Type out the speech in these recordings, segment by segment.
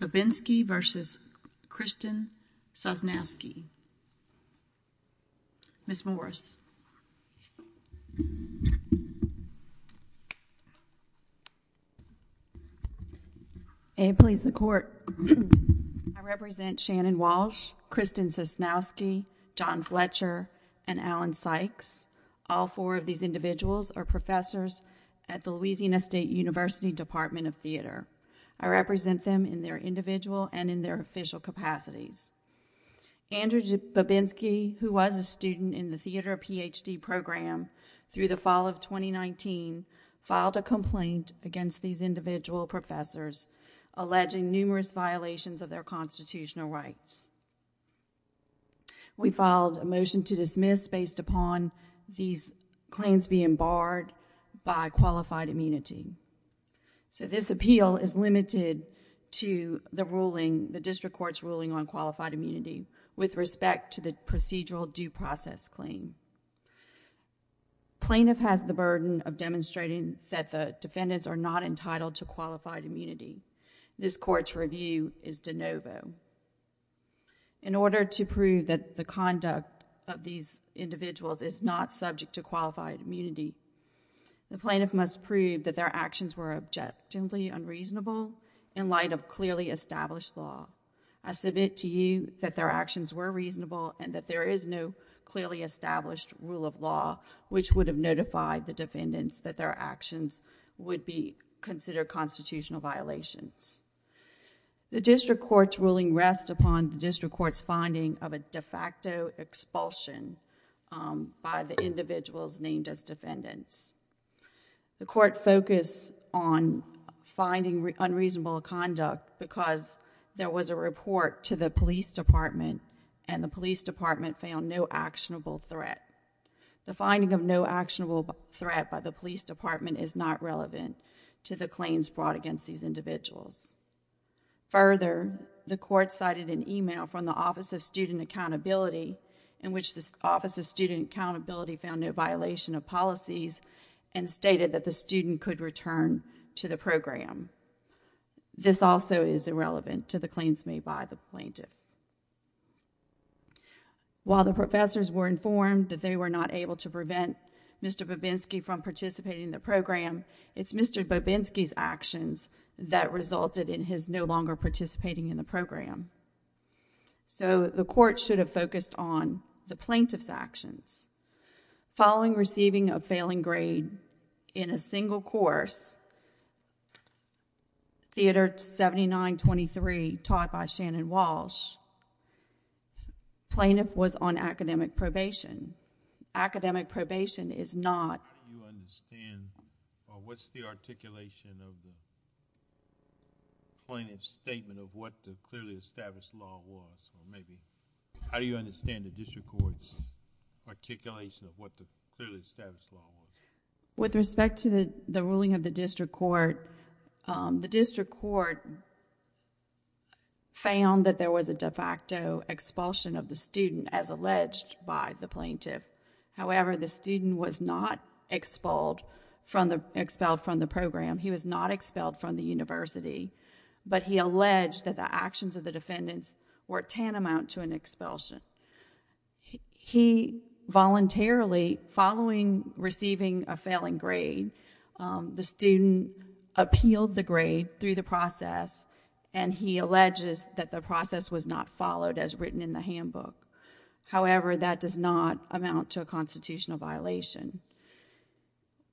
Babinski v. Kristen Sosnowsky. Ms. Morris. I represent Shannon Walsh, Kristen Sosnowsky, John Fletcher, and Alan Sykes. All four of these individuals are professors at the Louisiana State University Department of Theater. I represent them in their individual and in their official capacities. Andrew Babinski, who was a student in the theater PhD program through the fall of 2019, filed a complaint against these individual professors alleging numerous violations of their constitutional rights. We filed a motion to dismiss based upon these claims being barred by qualified immunity. This appeal is limited to the district court's ruling on qualified immunity with respect to the procedural due process claim. Plaintiff has the burden of demonstrating that the defendants are not entitled to qualified immunity. This court's review is de novo. In order to prove that the conduct of these individuals is not subject to qualified immunity, the plaintiff must prove that their actions were objectively unreasonable in light of clearly established law. I submit to you that their actions were reasonable and that there is no clearly established rule of law which would have notified the defendants that their actions would be considered constitutional violations. The district court's ruling rests upon the district court's finding of a de novo violation by the individuals named as defendants. The court focused on finding unreasonable conduct because there was a report to the police department and the police department found no actionable threat. The finding of no actionable threat by the police department is not relevant to the claims brought against these individuals. Further, the court cited an email from the Office of Student Accountability in which the Office of Student Accountability found no violation of policies and stated that the student could return to the program. This also is irrelevant to the claims made by the plaintiff. While the professors were informed that they were not able to prevent Mr. Bobinski from participating in the program, it's Mr. Bobinski's that resulted in his no longer participating in the program. The court should have focused on the plaintiff's actions. Following receiving a failing grade in a single course, Theater 7923, taught by Shannon Walsh, plaintiff was on academic probation. Academic probation is not... How do you understand or what's the articulation of the plaintiff's statement of what the clearly established law was or maybe... How do you understand the district court's articulation of what the clearly established law was? With respect to the ruling of the district court, the district court found that there was a de facto expulsion of the student as alleged by the plaintiff. However, the student was not expelled from the program. He was not expelled from the university, but he alleged that the actions of the defendants were tantamount to an expulsion. He voluntarily, following receiving a failing grade, the student appealed the grade through the process and he alleges that the process was not followed as written in the handbook. However, that does not amount to a constitutional violation.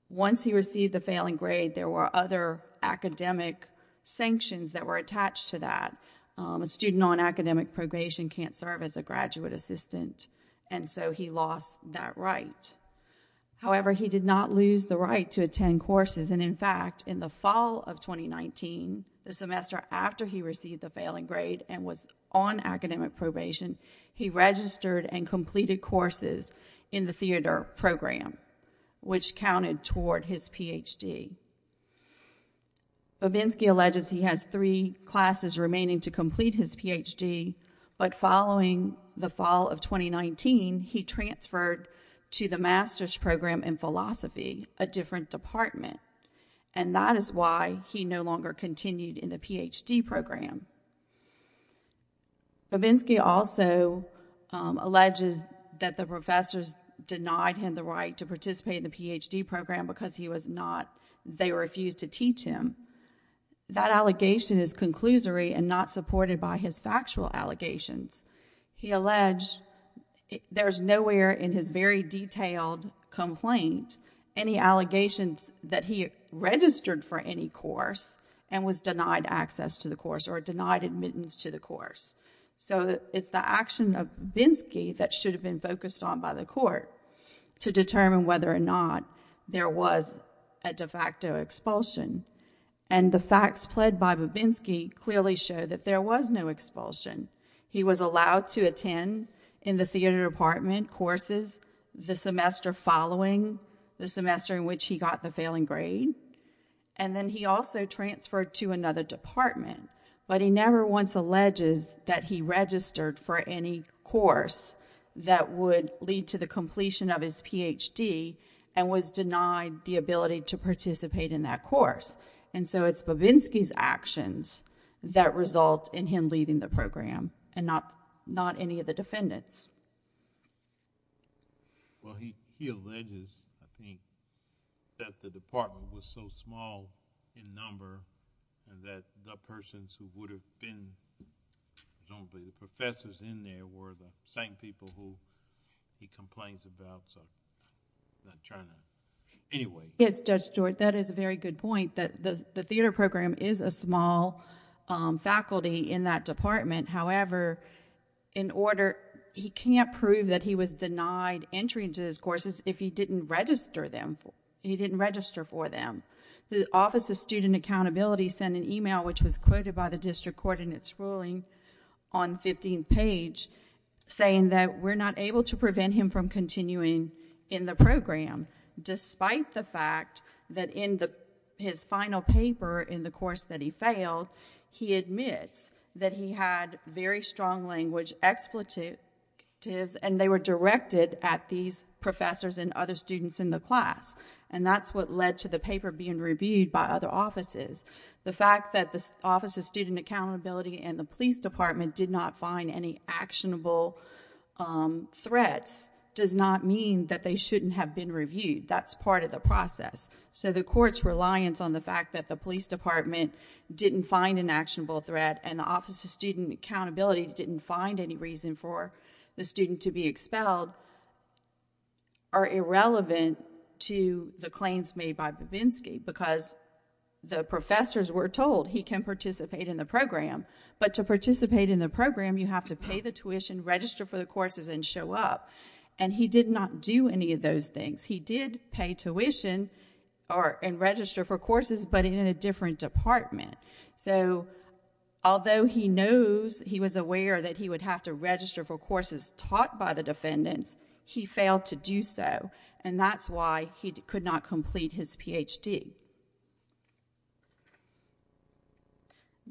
Once he received the failing grade, there were other academic sanctions that were attached to that. A student on academic probation can't serve as a graduate assistant and so he lost that right. However, he did not lose the right to attend courses and in fact, in the fall of 2019, the semester after he received the failing grade and was on academic probation, he registered and completed courses in the theater program, which counted toward his PhD. Babinski alleges he has three classes remaining to complete his PhD, but following the fall of 2019, he transferred to the master's program in philosophy, a different department, and that is why he no longer continued in the PhD program. Babinski also alleges that the professors denied him the right to participate in the PhD program because he was not, they refused to teach him. That allegation is conclusory and not supported by his factual allegations. He alleged there's nowhere in his very and was denied access to the course or denied admittance to the course. So it's the action of Babinski that should have been focused on by the court to determine whether or not there was a de facto expulsion and the facts pled by Babinski clearly show that there was no expulsion. He was allowed to attend in the theater department courses the semester following the semester in which he got the failing grade. Then he also transferred to another department, but he never once alleges that he registered for any course that would lead to the completion of his PhD and was denied the ability to participate in that course. So it's Babinski's actions that result in him leaving the program and not any of the defendants. Well, he alleges, I think, that the department was so small in number and that the persons who would have been professors in there were the same people who he complains about, so I'm not trying to... anyway. Yes, Judge George, that is a very good point. The theater program is a small faculty in that department. However, he can't prove that he was denied entry into his courses if he didn't register for them. The Office of Student Accountability sent an email which was quoted by the district court in its ruling on 15th page saying that we're not able to prevent him from continuing in the program despite the fact that in his final paper in the course that he failed, he admits that he had very strong language expletives and they were directed at these professors and other students in the class, and that's what led to the paper being reviewed by other offices. The fact that the Office of Student Accountability and the police department did not find any actionable threats does not mean that they shouldn't have been reviewed. That's part of the process, so the court's reliance on the fact that the police department didn't find an actionable threat and the Office of Student Accountability didn't find any reason for the student to be expelled are irrelevant to the claims made by Babinski because the professors were told he can participate in the program, but to participate in the program, you have to pay the tuition, register for the courses, and show up, and he did not do any of those things. He did pay tuition and register for courses, but in a different department, so although he knows he was aware that he would have to register for courses taught by the defendants, he failed to do so, and that's why he could not complete his PhD.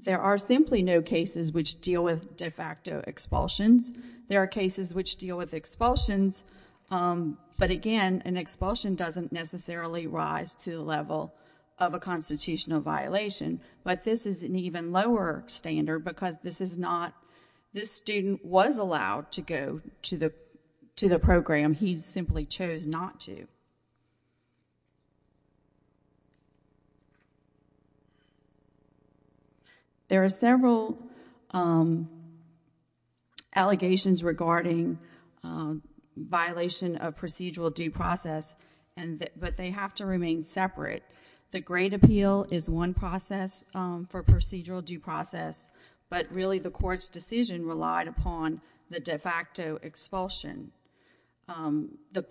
There are simply no cases which deal with de facto expulsions. There are cases which deal with expulsions, but again, an expulsion doesn't necessarily rise to the level of a constitutional violation, but this is an even lower standard because this student was allowed to go to the program. He simply chose not to. There are several allegations regarding violation of procedural due process, but they have to remain separate. The grade appeal is one process for procedural due process, but really the court's decision relied upon the de facto expulsion. The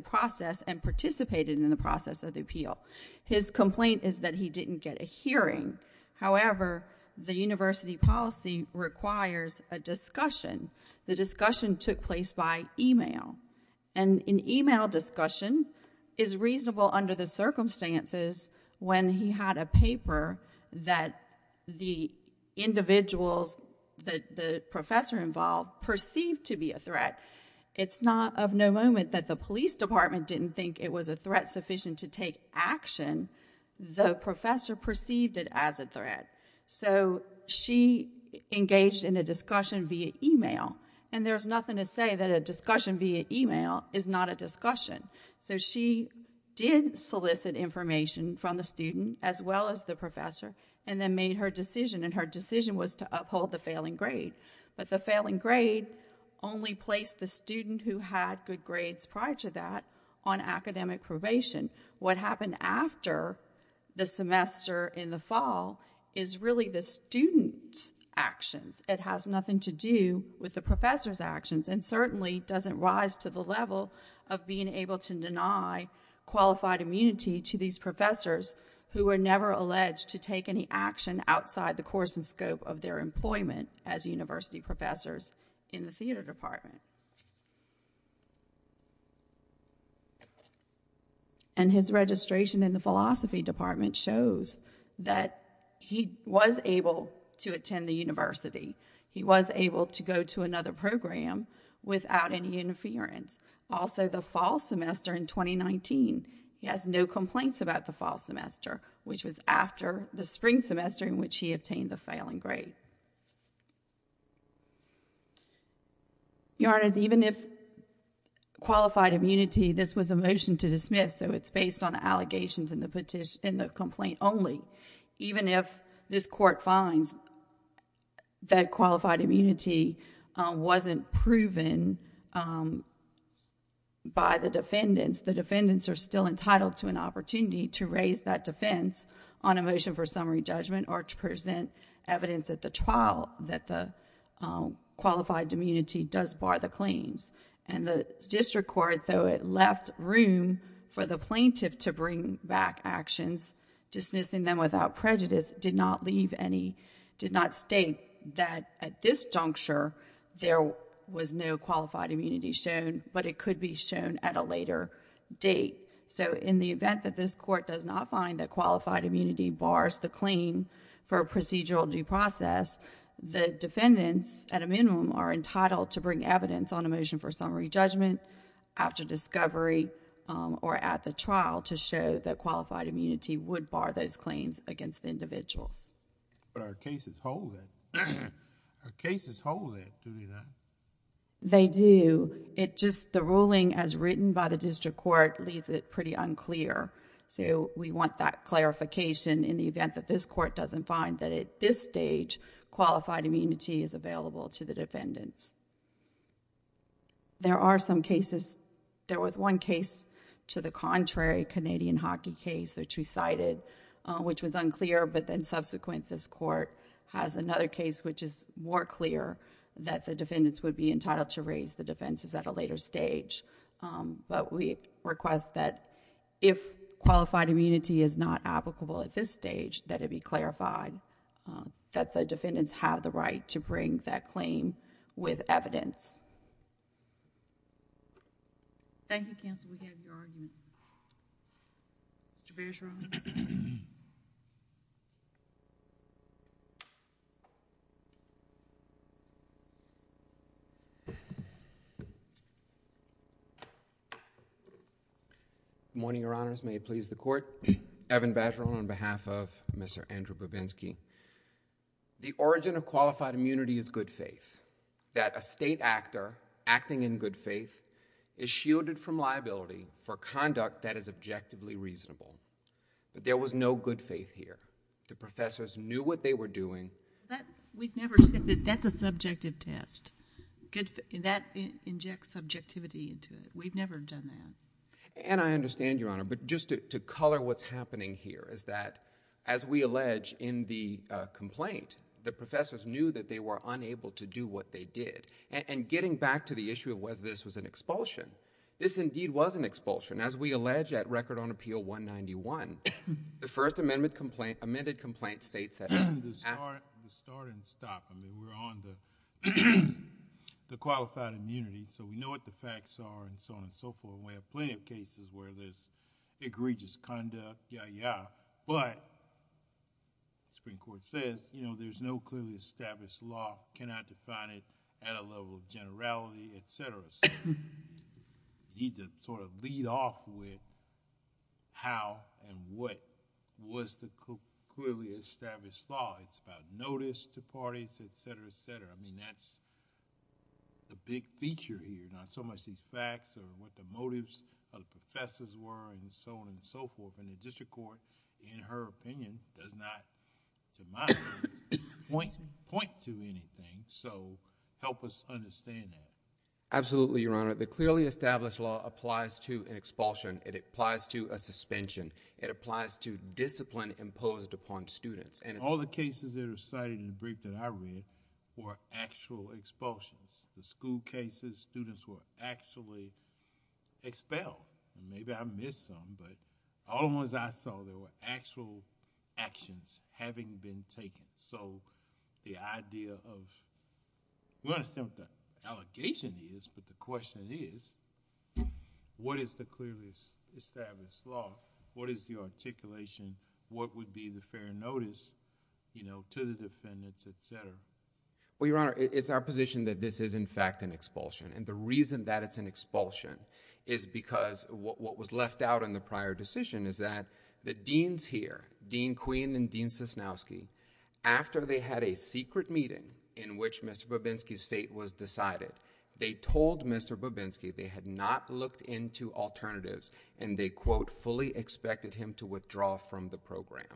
process and participated in the process of the appeal. His complaint is that he didn't get a hearing. However, the university policy requires a discussion. The discussion took place by email, and an email discussion is reasonable under the circumstances when he had a paper that the individuals that the professor involved perceived to be a threat. It's not of no moment that the police department didn't think it was a threat sufficient to take action. The professor perceived it as a threat, so she engaged in a discussion via email, and there's nothing to say that a discussion via email is not a discussion, so she did solicit information from the student as well as the professor, and then made her decision, and her decision was to uphold the failing grade, but the failing grade only placed the student who had good grades prior to that on academic probation. What happened after the semester in the fall is really the student's actions. It has nothing to do with the professor's actions, and certainly doesn't rise to the level of being able to deny qualified immunity to these professors who were never alleged to take any action outside the course and scope of their employment as university professors in the theater department, and his registration in the philosophy department shows that he was able to attend the university. He was able to go to another program without any interference. Also, the fall semester in 2019, he has no complaints about the fall semester, which was after the spring semester in which he obtained the failing grade. Your Honor, even if qualified immunity... this was a motion to dismiss, so it's based on the allegations in the complaint only. Even if this court finds that qualified immunity wasn't proven by the defendants, the defendants are still entitled to an opportunity to raise that defense on a basis of evidence at the trial that the qualified immunity does bar the claims, and the district court, though it left room for the plaintiff to bring back actions, dismissing them without prejudice, did not leave any... did not state that at this juncture, there was no qualified immunity shown, but it could be shown at a later date. So, in the event that this court does not find that procedural due process, the defendants, at a minimum, are entitled to bring evidence on a motion for summary judgment after discovery or at the trial to show that qualified immunity would bar those claims against the individuals. Our cases hold it. Our cases hold it, do they not? They do. It's just the ruling as written by the district court leaves it pretty unclear, so we want that clarification in the event that this court doesn't find that at this stage, qualified immunity is available to the defendants. There are some cases... there was one case to the contrary, Canadian hockey case, which we cited, which was unclear, but then subsequent, this court has another case which is more clear that the defendants would be entitled to raise the defenses at a later stage, but we request that if qualified immunity is not applicable at this stage, that it be clarified that the defendants have the right to bring that claim with evidence. Thank you, counsel. We have your argument. Mr. Beers-Rohan. Good morning, Your Honors. May it please the Court. Evan Bajerl on behalf of Mr. Andrew Bavinsky. The origin of qualified immunity is good faith, that a state actor acting in good faith is shielded from liability for conduct that is objectively reasonable. There was no good faith here. The professors knew what they were doing... We've never said that that's a subjective test. That injects subjectivity into it. We've never done that. And I understand, Your Honor, but just to color what's happening here is that, as we allege in the complaint, the professors knew that they were unable to do what they did, and getting back to the issue of whether this was an expulsion, this indeed was an expulsion. As we allege at Record on Appeal 191, the first amended complaint states that... The start and stop. I mean, we're on the qualified immunity, so we know what the facts are, and so on and so forth. We have plenty of cases where there's egregious conduct, yeah, yeah, but the Supreme Court says, you know, there's no clearly established law, cannot define it at a level of generality, etc. You need to sort of lead off with how and what was the clearly established law. It's about notice to parties, etc., etc. I mean, that's a big feature here, not so much these facts or what the motives of the professors were, and so on and so forth, and the district court, in her opinion, does not, to my eyes, point to anything, so help us understand that. Absolutely, Your Honor. The clearly established law applies to an expulsion. It applies to a suspension. It applies to discipline imposed upon students, and... All the cases that are cited in the brief that I read were actual expulsions. The school cases, students were actually expelled. Maybe I missed some, but all the ones I saw, there were actual actions having been taken. So, the idea of... We understand what the allegation is, but the question is, what is the clearly established law? What is the articulation? What would be the fair notice, you know, to the defendants, etc.? Well, Your Honor, it's our position that this is, in fact, an expulsion, and the reason that it's an expulsion is because what was left out in the prior decision is that the deans here, Dean Quinn and Dean Sosnowski, after they had a secret meeting in which Mr. Bobinski's fate was decided, they told Mr. Bobinski they had not looked into alternatives, and they, quote, fully expected him to withdraw from the program.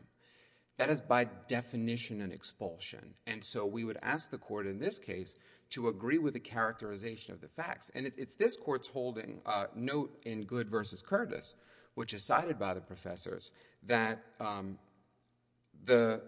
That is, by definition, an expulsion, and so we would ask the court in this case to agree with the characterization of the facts, and it's this Court's holding note in Good v. Curtis, which is cited by the professors, that the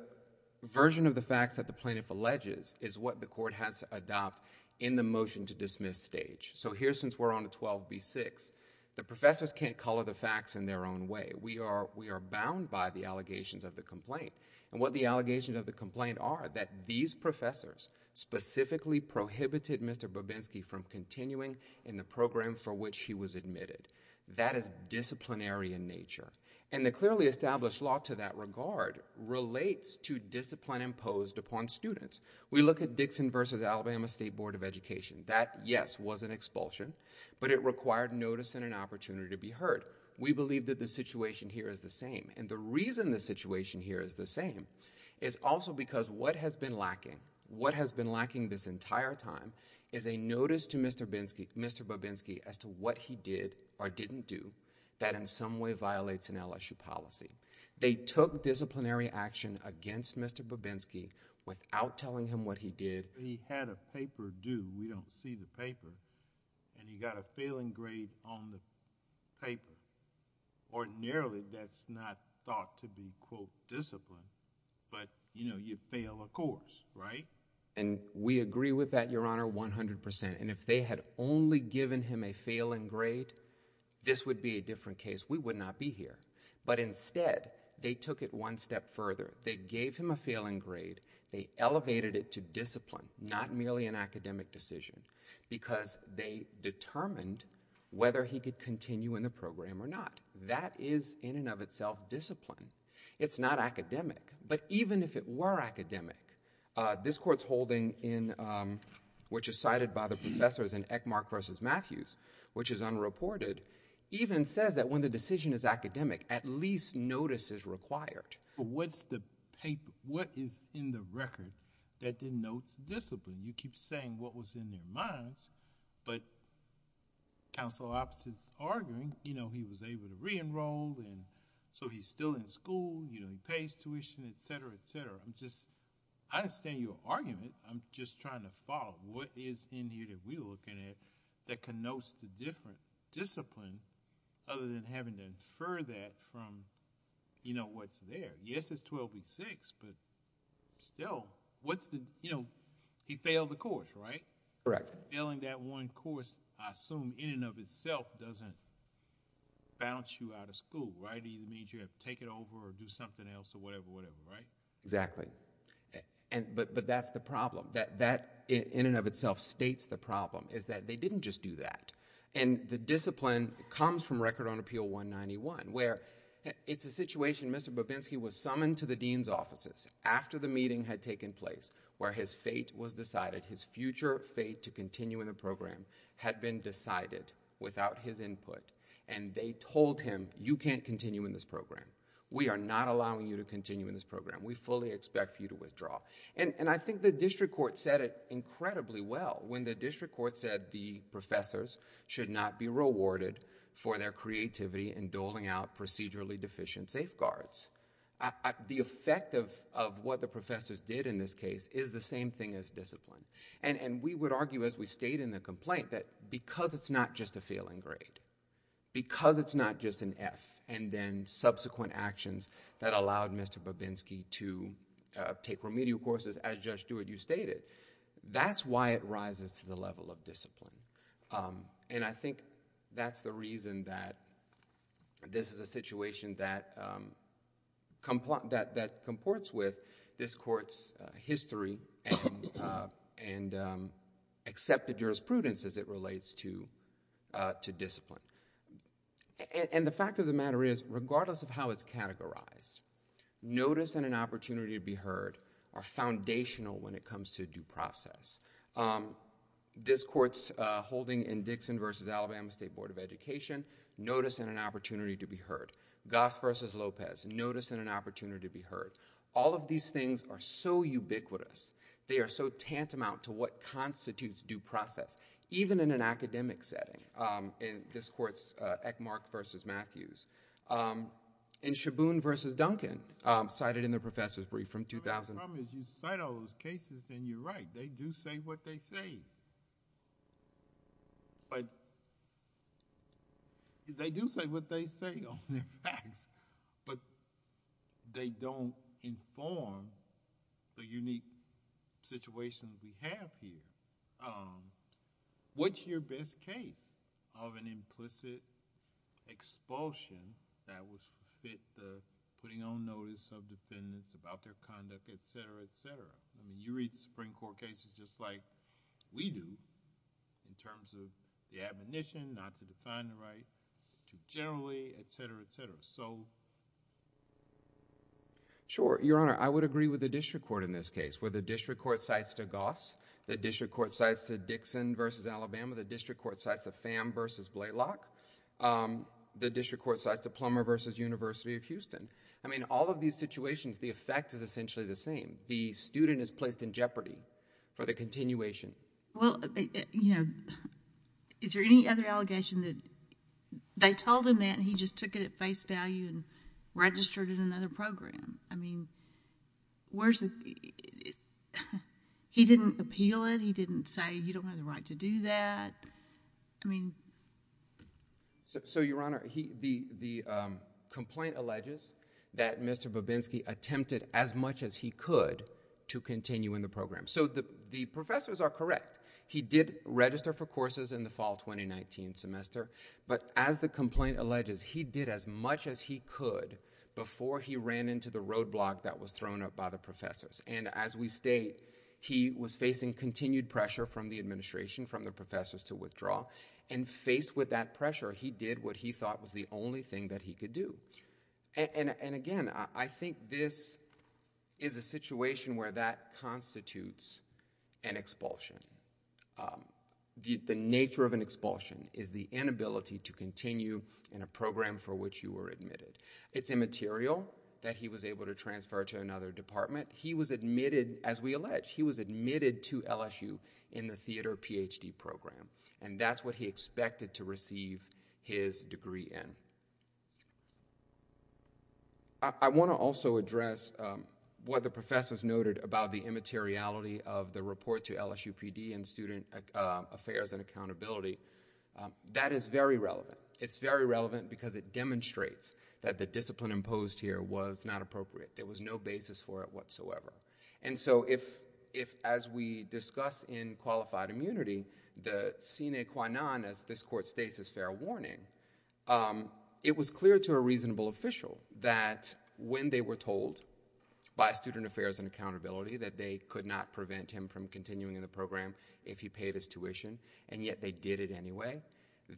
version of the facts that the plaintiff alleges is what the court has to adopt in the motion-to-dismiss stage. So, here, since we're on a 12B6, the professors can't color the facts in their own way. We are bound by the allegations of the complaint, and what the allegations of the complaint are, that these professors specifically prohibited Mr. Bobinski from continuing in the program for which he was admitted. That is disciplinary in nature, and the clearly established law to that regard relates to discipline imposed upon students. We look at Dixon v. Alabama State Board of Education. That, yes, was an expulsion, but it required notice and an opportunity to be heard. We believe that the situation here is the same, and the reason the situation here is the same is also because what has been lacking, what has been lacking this week, Mr. Bobinski, as to what he did or didn't do, that in some way violates an LSU policy. They took disciplinary action against Mr. Bobinski without telling him what he did. He had a paper due. We don't see the paper, and you got a failing grade on the paper. Ordinarily, that's not thought to be, quote, discipline, but, you know, you fail a course, right? And we agree with that, Your Honor, 100 percent, and if they had only given him a failing grade, this would be a different case. We would not be here, but instead, they took it one step further. They gave him a failing grade. They elevated it to discipline, not merely an academic decision, because they determined whether he could continue in the program or not. That is, in and of itself, discipline. It's not a matter of discipline. It's a matter of what the decision is. And I think that the decision is academic, which is cited by the professors in Eckmark v. Matthews, which is unreported, even says that when the decision is academic, at least notice is required. What's the paper? What is in the record that denotes discipline? You keep saying what was in their minds, but counsel opposites arguing, you know, he was able to re-enroll, and so he's still in school, you know, he pays tuition, etc., etc. I'm just, I understand your argument. I'm just trying to follow what is in here that we're looking at that connotes the different discipline, other than having to infer that from, you know, what's there. Yes, it's 12 v. 6, but still, what's the, you know, he failed the course, right? Correct. Failing that one course, I assume, in and of itself, doesn't bounce you out of school, right? It means you have to take it over or do something else or whatever, whatever, right? Exactly. And, but, but that's the problem. That, that in and of itself states the problem, is that they didn't just do that. And the discipline comes from Record on Appeal 191, where it's a situation Mr. Bobinski was summoned to the dean's offices after the meeting had taken place, where his fate was decided, his future fate to continue in the program had been decided without his input, and they told him, you can't continue in this program. We are not allowing you to continue in this program. We fully expect you to withdraw. And, and I think the district court said it incredibly well, when the district court said the professors should not be rewarded for their creativity in doling out procedurally deficient safeguards. The effect of, of what the professors did in this case is the same thing as discipline. And, and we would argue as we state in the complaint that because it's not just a failing grade, because it's not just an F, and then subsequent actions that allowed Mr. Bobinski to take remedial courses as Judge Stewart, you stated, that's why it rises to the level of discipline. And I think that's the reason that this is a situation that, that comports with this court's history and, and accepted jurisprudence as it relates to, to discipline. And, and the fact of the matter is, regardless of how it's categorized, notice and an opportunity to be heard are foundational when it comes to due process. This court's holding in Dixon v. Alabama State Board of Education, notice and an opportunity to be heard. Goss v. Lopez, notice and an opportunity to be heard. All of these things are so ubiquitous. They are so tantamount to what constitutes due process. Even in an academic setting, in this court's Eckmark v. Matthews. In Shaboon v. Duncan, cited in the professor's brief from 2000... The only problem is you cite all those cases and you're right. They do say what they say on their facts, but they don't inform the unique situations we have here. What's your best case of an implicit expulsion that would fit the putting on notice of defendants about their conduct, etc., etc.? I mean, you read the Supreme Court cases just like we do, in terms of the admonition not to find the right to generally, etc., etc. Sure, Your Honor. I would agree with the district court in this case, where the district court cites to Goss, the district court cites to Dixon v. Alabama, the district court cites to Pham v. Blaylock, the district court cites to Plummer v. University of Houston. I mean, all of these situations, the effect is essentially the same. The student is placed in jeopardy for the continuation. Well, you know, is there any other allegation that they told him that and he just took it at face value and registered in another program? I mean, where's the... he didn't appeal it? He didn't say you don't have the right to do that? I mean... So, Your Honor, the complaint alleges that Mr. Babinski attempted as much as he could before he ran into the roadblock that was thrown up by the professors. And as we state, he was facing continued pressure from the administration, from the professors, to withdraw. And faced with that pressure, he did what he thought was the only thing that he could do. And again, I think this is a The nature of an expulsion is the inability to continue in a program for which you were admitted. It's immaterial that he was able to transfer to another department. He was admitted, as we allege, he was admitted to LSU in the theater PhD program. And that's what he expected to receive his degree in. I want to also address what the professors noted about the immateriality of the report to LSU PhD in Student Affairs and Accountability. That is very relevant. It's very relevant because it demonstrates that the discipline imposed here was not appropriate. There was no basis for it whatsoever. And so if, as we discuss in Qualified Immunity, the sine qua non, as this court states, is fair warning, it was clear to a reasonable official that when they were told by Student Affairs and Accountability that they could not prevent him from continuing in the program if he paid his tuition, and yet they did it anyway,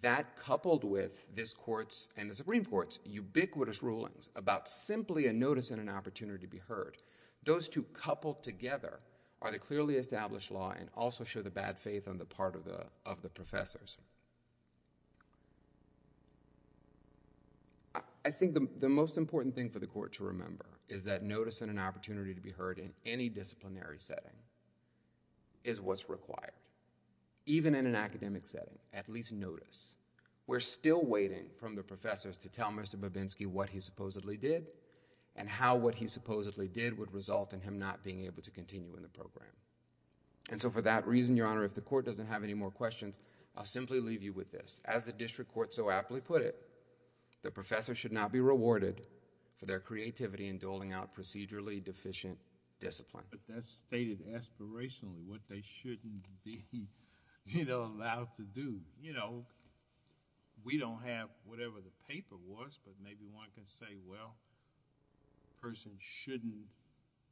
that coupled with this court's and the Supreme Court's ubiquitous rulings about simply a notice and an opportunity to be heard, those two coupled together are the clearly established law and also show the bad faith on the part of the professors. I think the most important thing for the court to remember is that notice and an interdisciplinary setting is what's required. Even in an academic setting, at least notice. We're still waiting from the professors to tell Mr. Babinski what he supposedly did and how what he supposedly did would result in him not being able to continue in the program. And so for that reason, Your Honor, if the court doesn't have any more questions, I'll simply leave you with this. As the district court so aptly put it, the professor should not be rewarded for their creativity in doling out procedurally deficient discipline. But that's stated aspirationally, what they shouldn't be, you know, allowed to do. You know, we don't have whatever the paper was, but maybe one can say, well, a person shouldn't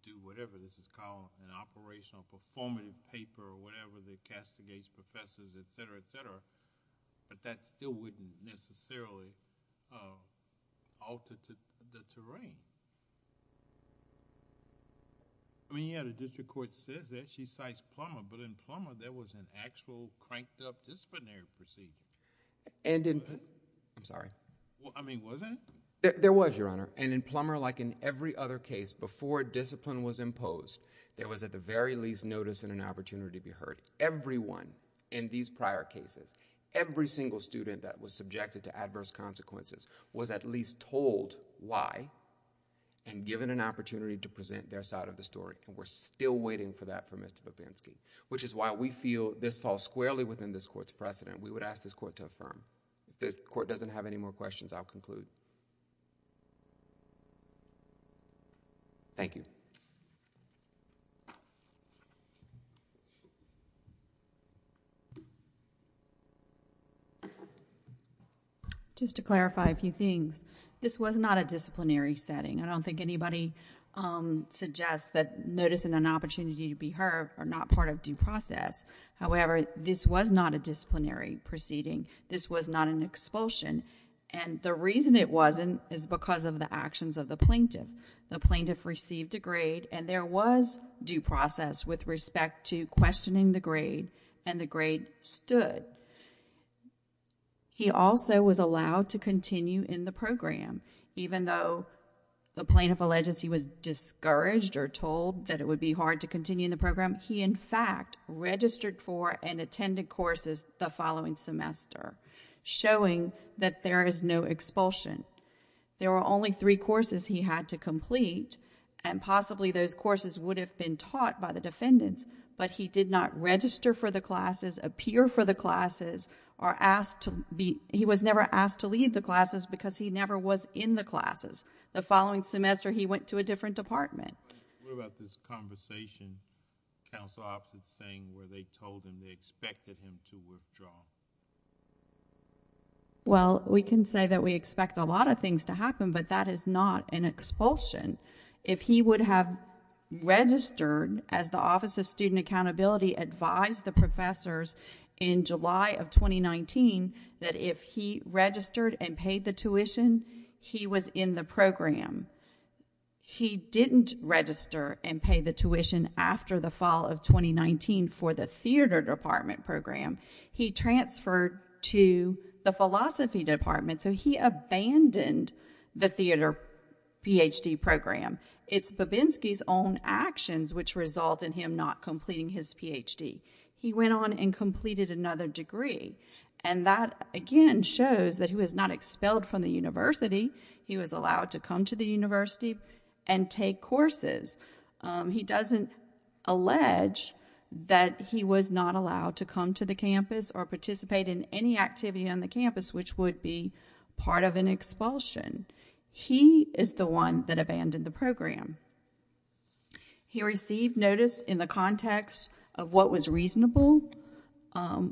do whatever this is called, an operational performative paper or whatever that castigates professors, etc., etc., but that still wouldn't necessarily alter the terrain. I mean, yeah, the district court says that, she cites Plummer, but in Plummer, there was an actual cranked-up disciplinary procedure. I'm sorry. I mean, wasn't it? There was, Your Honor, and in Plummer, like in every other case, before discipline was imposed, there was at the very least notice and an opportunity to be heard. Everyone in these prior cases, every single student that was subjected to adverse consequences was at least told why and given an opportunity to present their side of the story, and we're still waiting for that from Mr. Popansky, which is why we feel this falls squarely within this court's precedent. We would ask this court to affirm. If the court doesn't have any more questions, I'll conclude. Thank you. Just to clarify a few things, this was not a disciplinary setting. I don't think anybody suggests that notice and an opportunity to be heard are not part of due process. However, this was not a disciplinary proceeding. This was not an expulsion, and the reason it wasn't is because of the actions of the plaintiff. The plaintiff received a grade, and there was due process with respect to questioning the grade, and the grade stood. He also was allowed to continue in the program, even though the plaintiff alleges he was discouraged or told that it would be hard to continue in the program. He, in fact, registered for and attended courses the following semester, showing that there is no expulsion. There were only three courses he had to complete, and possibly those courses would have been taught by the defendants, but he did not register for the classes, appear for the classes, or asked to be... he was never asked to leave the classes because he never was in the classes. The following semester, he went to a different department. What about this conversation, counsel opposite saying, where they told him they expected him to withdraw? Well, we can say that we expect a lot of things to happen, but that is not an expulsion. If he would have registered, as the Office of Student Accountability advised the professors in July of 2019, that if he registered and paid the tuition, he was in the program. He didn't register and pay the tuition after the fall of 2019 for the theater department program. He transferred to the philosophy department, so he abandoned the theater Ph.D. program. It's Babinski's own actions which result in him not completing his Ph.D. He went on and completed another degree, and that, again, shows that he was not expelled from the university. He was allowed to come to the university and take courses. He doesn't allege that he was not allowed to come to the campus or participate in any activity on the campus which would be part of an expulsion. He is the one that abandoned the program. He received notice in the context of what was reasonable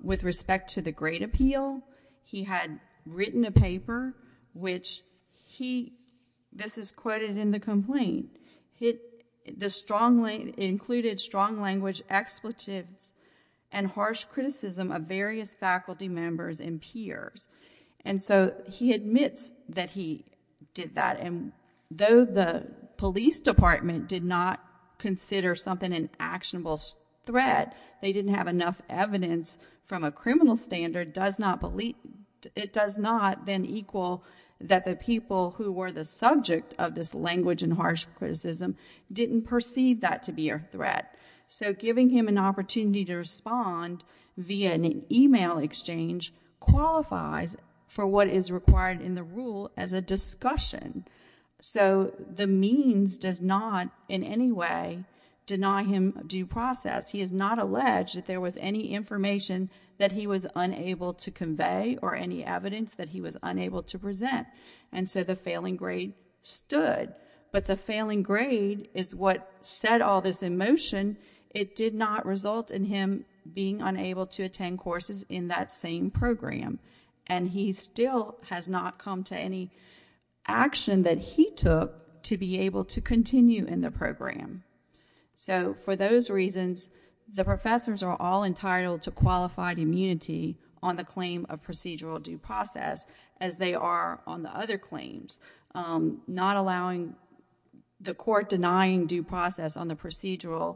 with respect to the great appeal. He had written a paper which he, this is quoted in the complaint, included strong language expletives and harsh criticism of various faculty members and peers. And so he admits that he did that, and though the police department did not consider something an actionable threat, they didn't have enough evidence from a criminal standard, it does not then equal that the people who were the subject of this language and harsh criticism didn't perceive that to be a threat. So giving him an opportunity to respond via an email exchange qualifies for what is required in the rule as a discussion. So the means does not in any way deny him due process. He is not alleged that there was any information that he was unable to convey or any evidence that he was unable to present. And so the failing grade stood. But the failing grade is what set all this in motion. It did not result in him being unable to attend courses in that same program. And he still has not come to any action that he took to be able to continue in the program. So for those reasons, the professors are all entitled to qualified immunity on the claim of procedural due process as they are on the other claims. Not allowing... the court denying due process on the procedural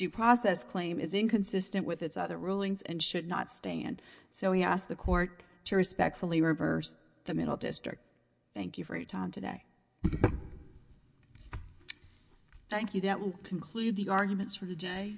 due process claim is inconsistent with its other rulings and should not stand. So we ask the court to respectfully reverse the Middle District. Thank you for your time today. Thank you. That will conclude the arguments for today.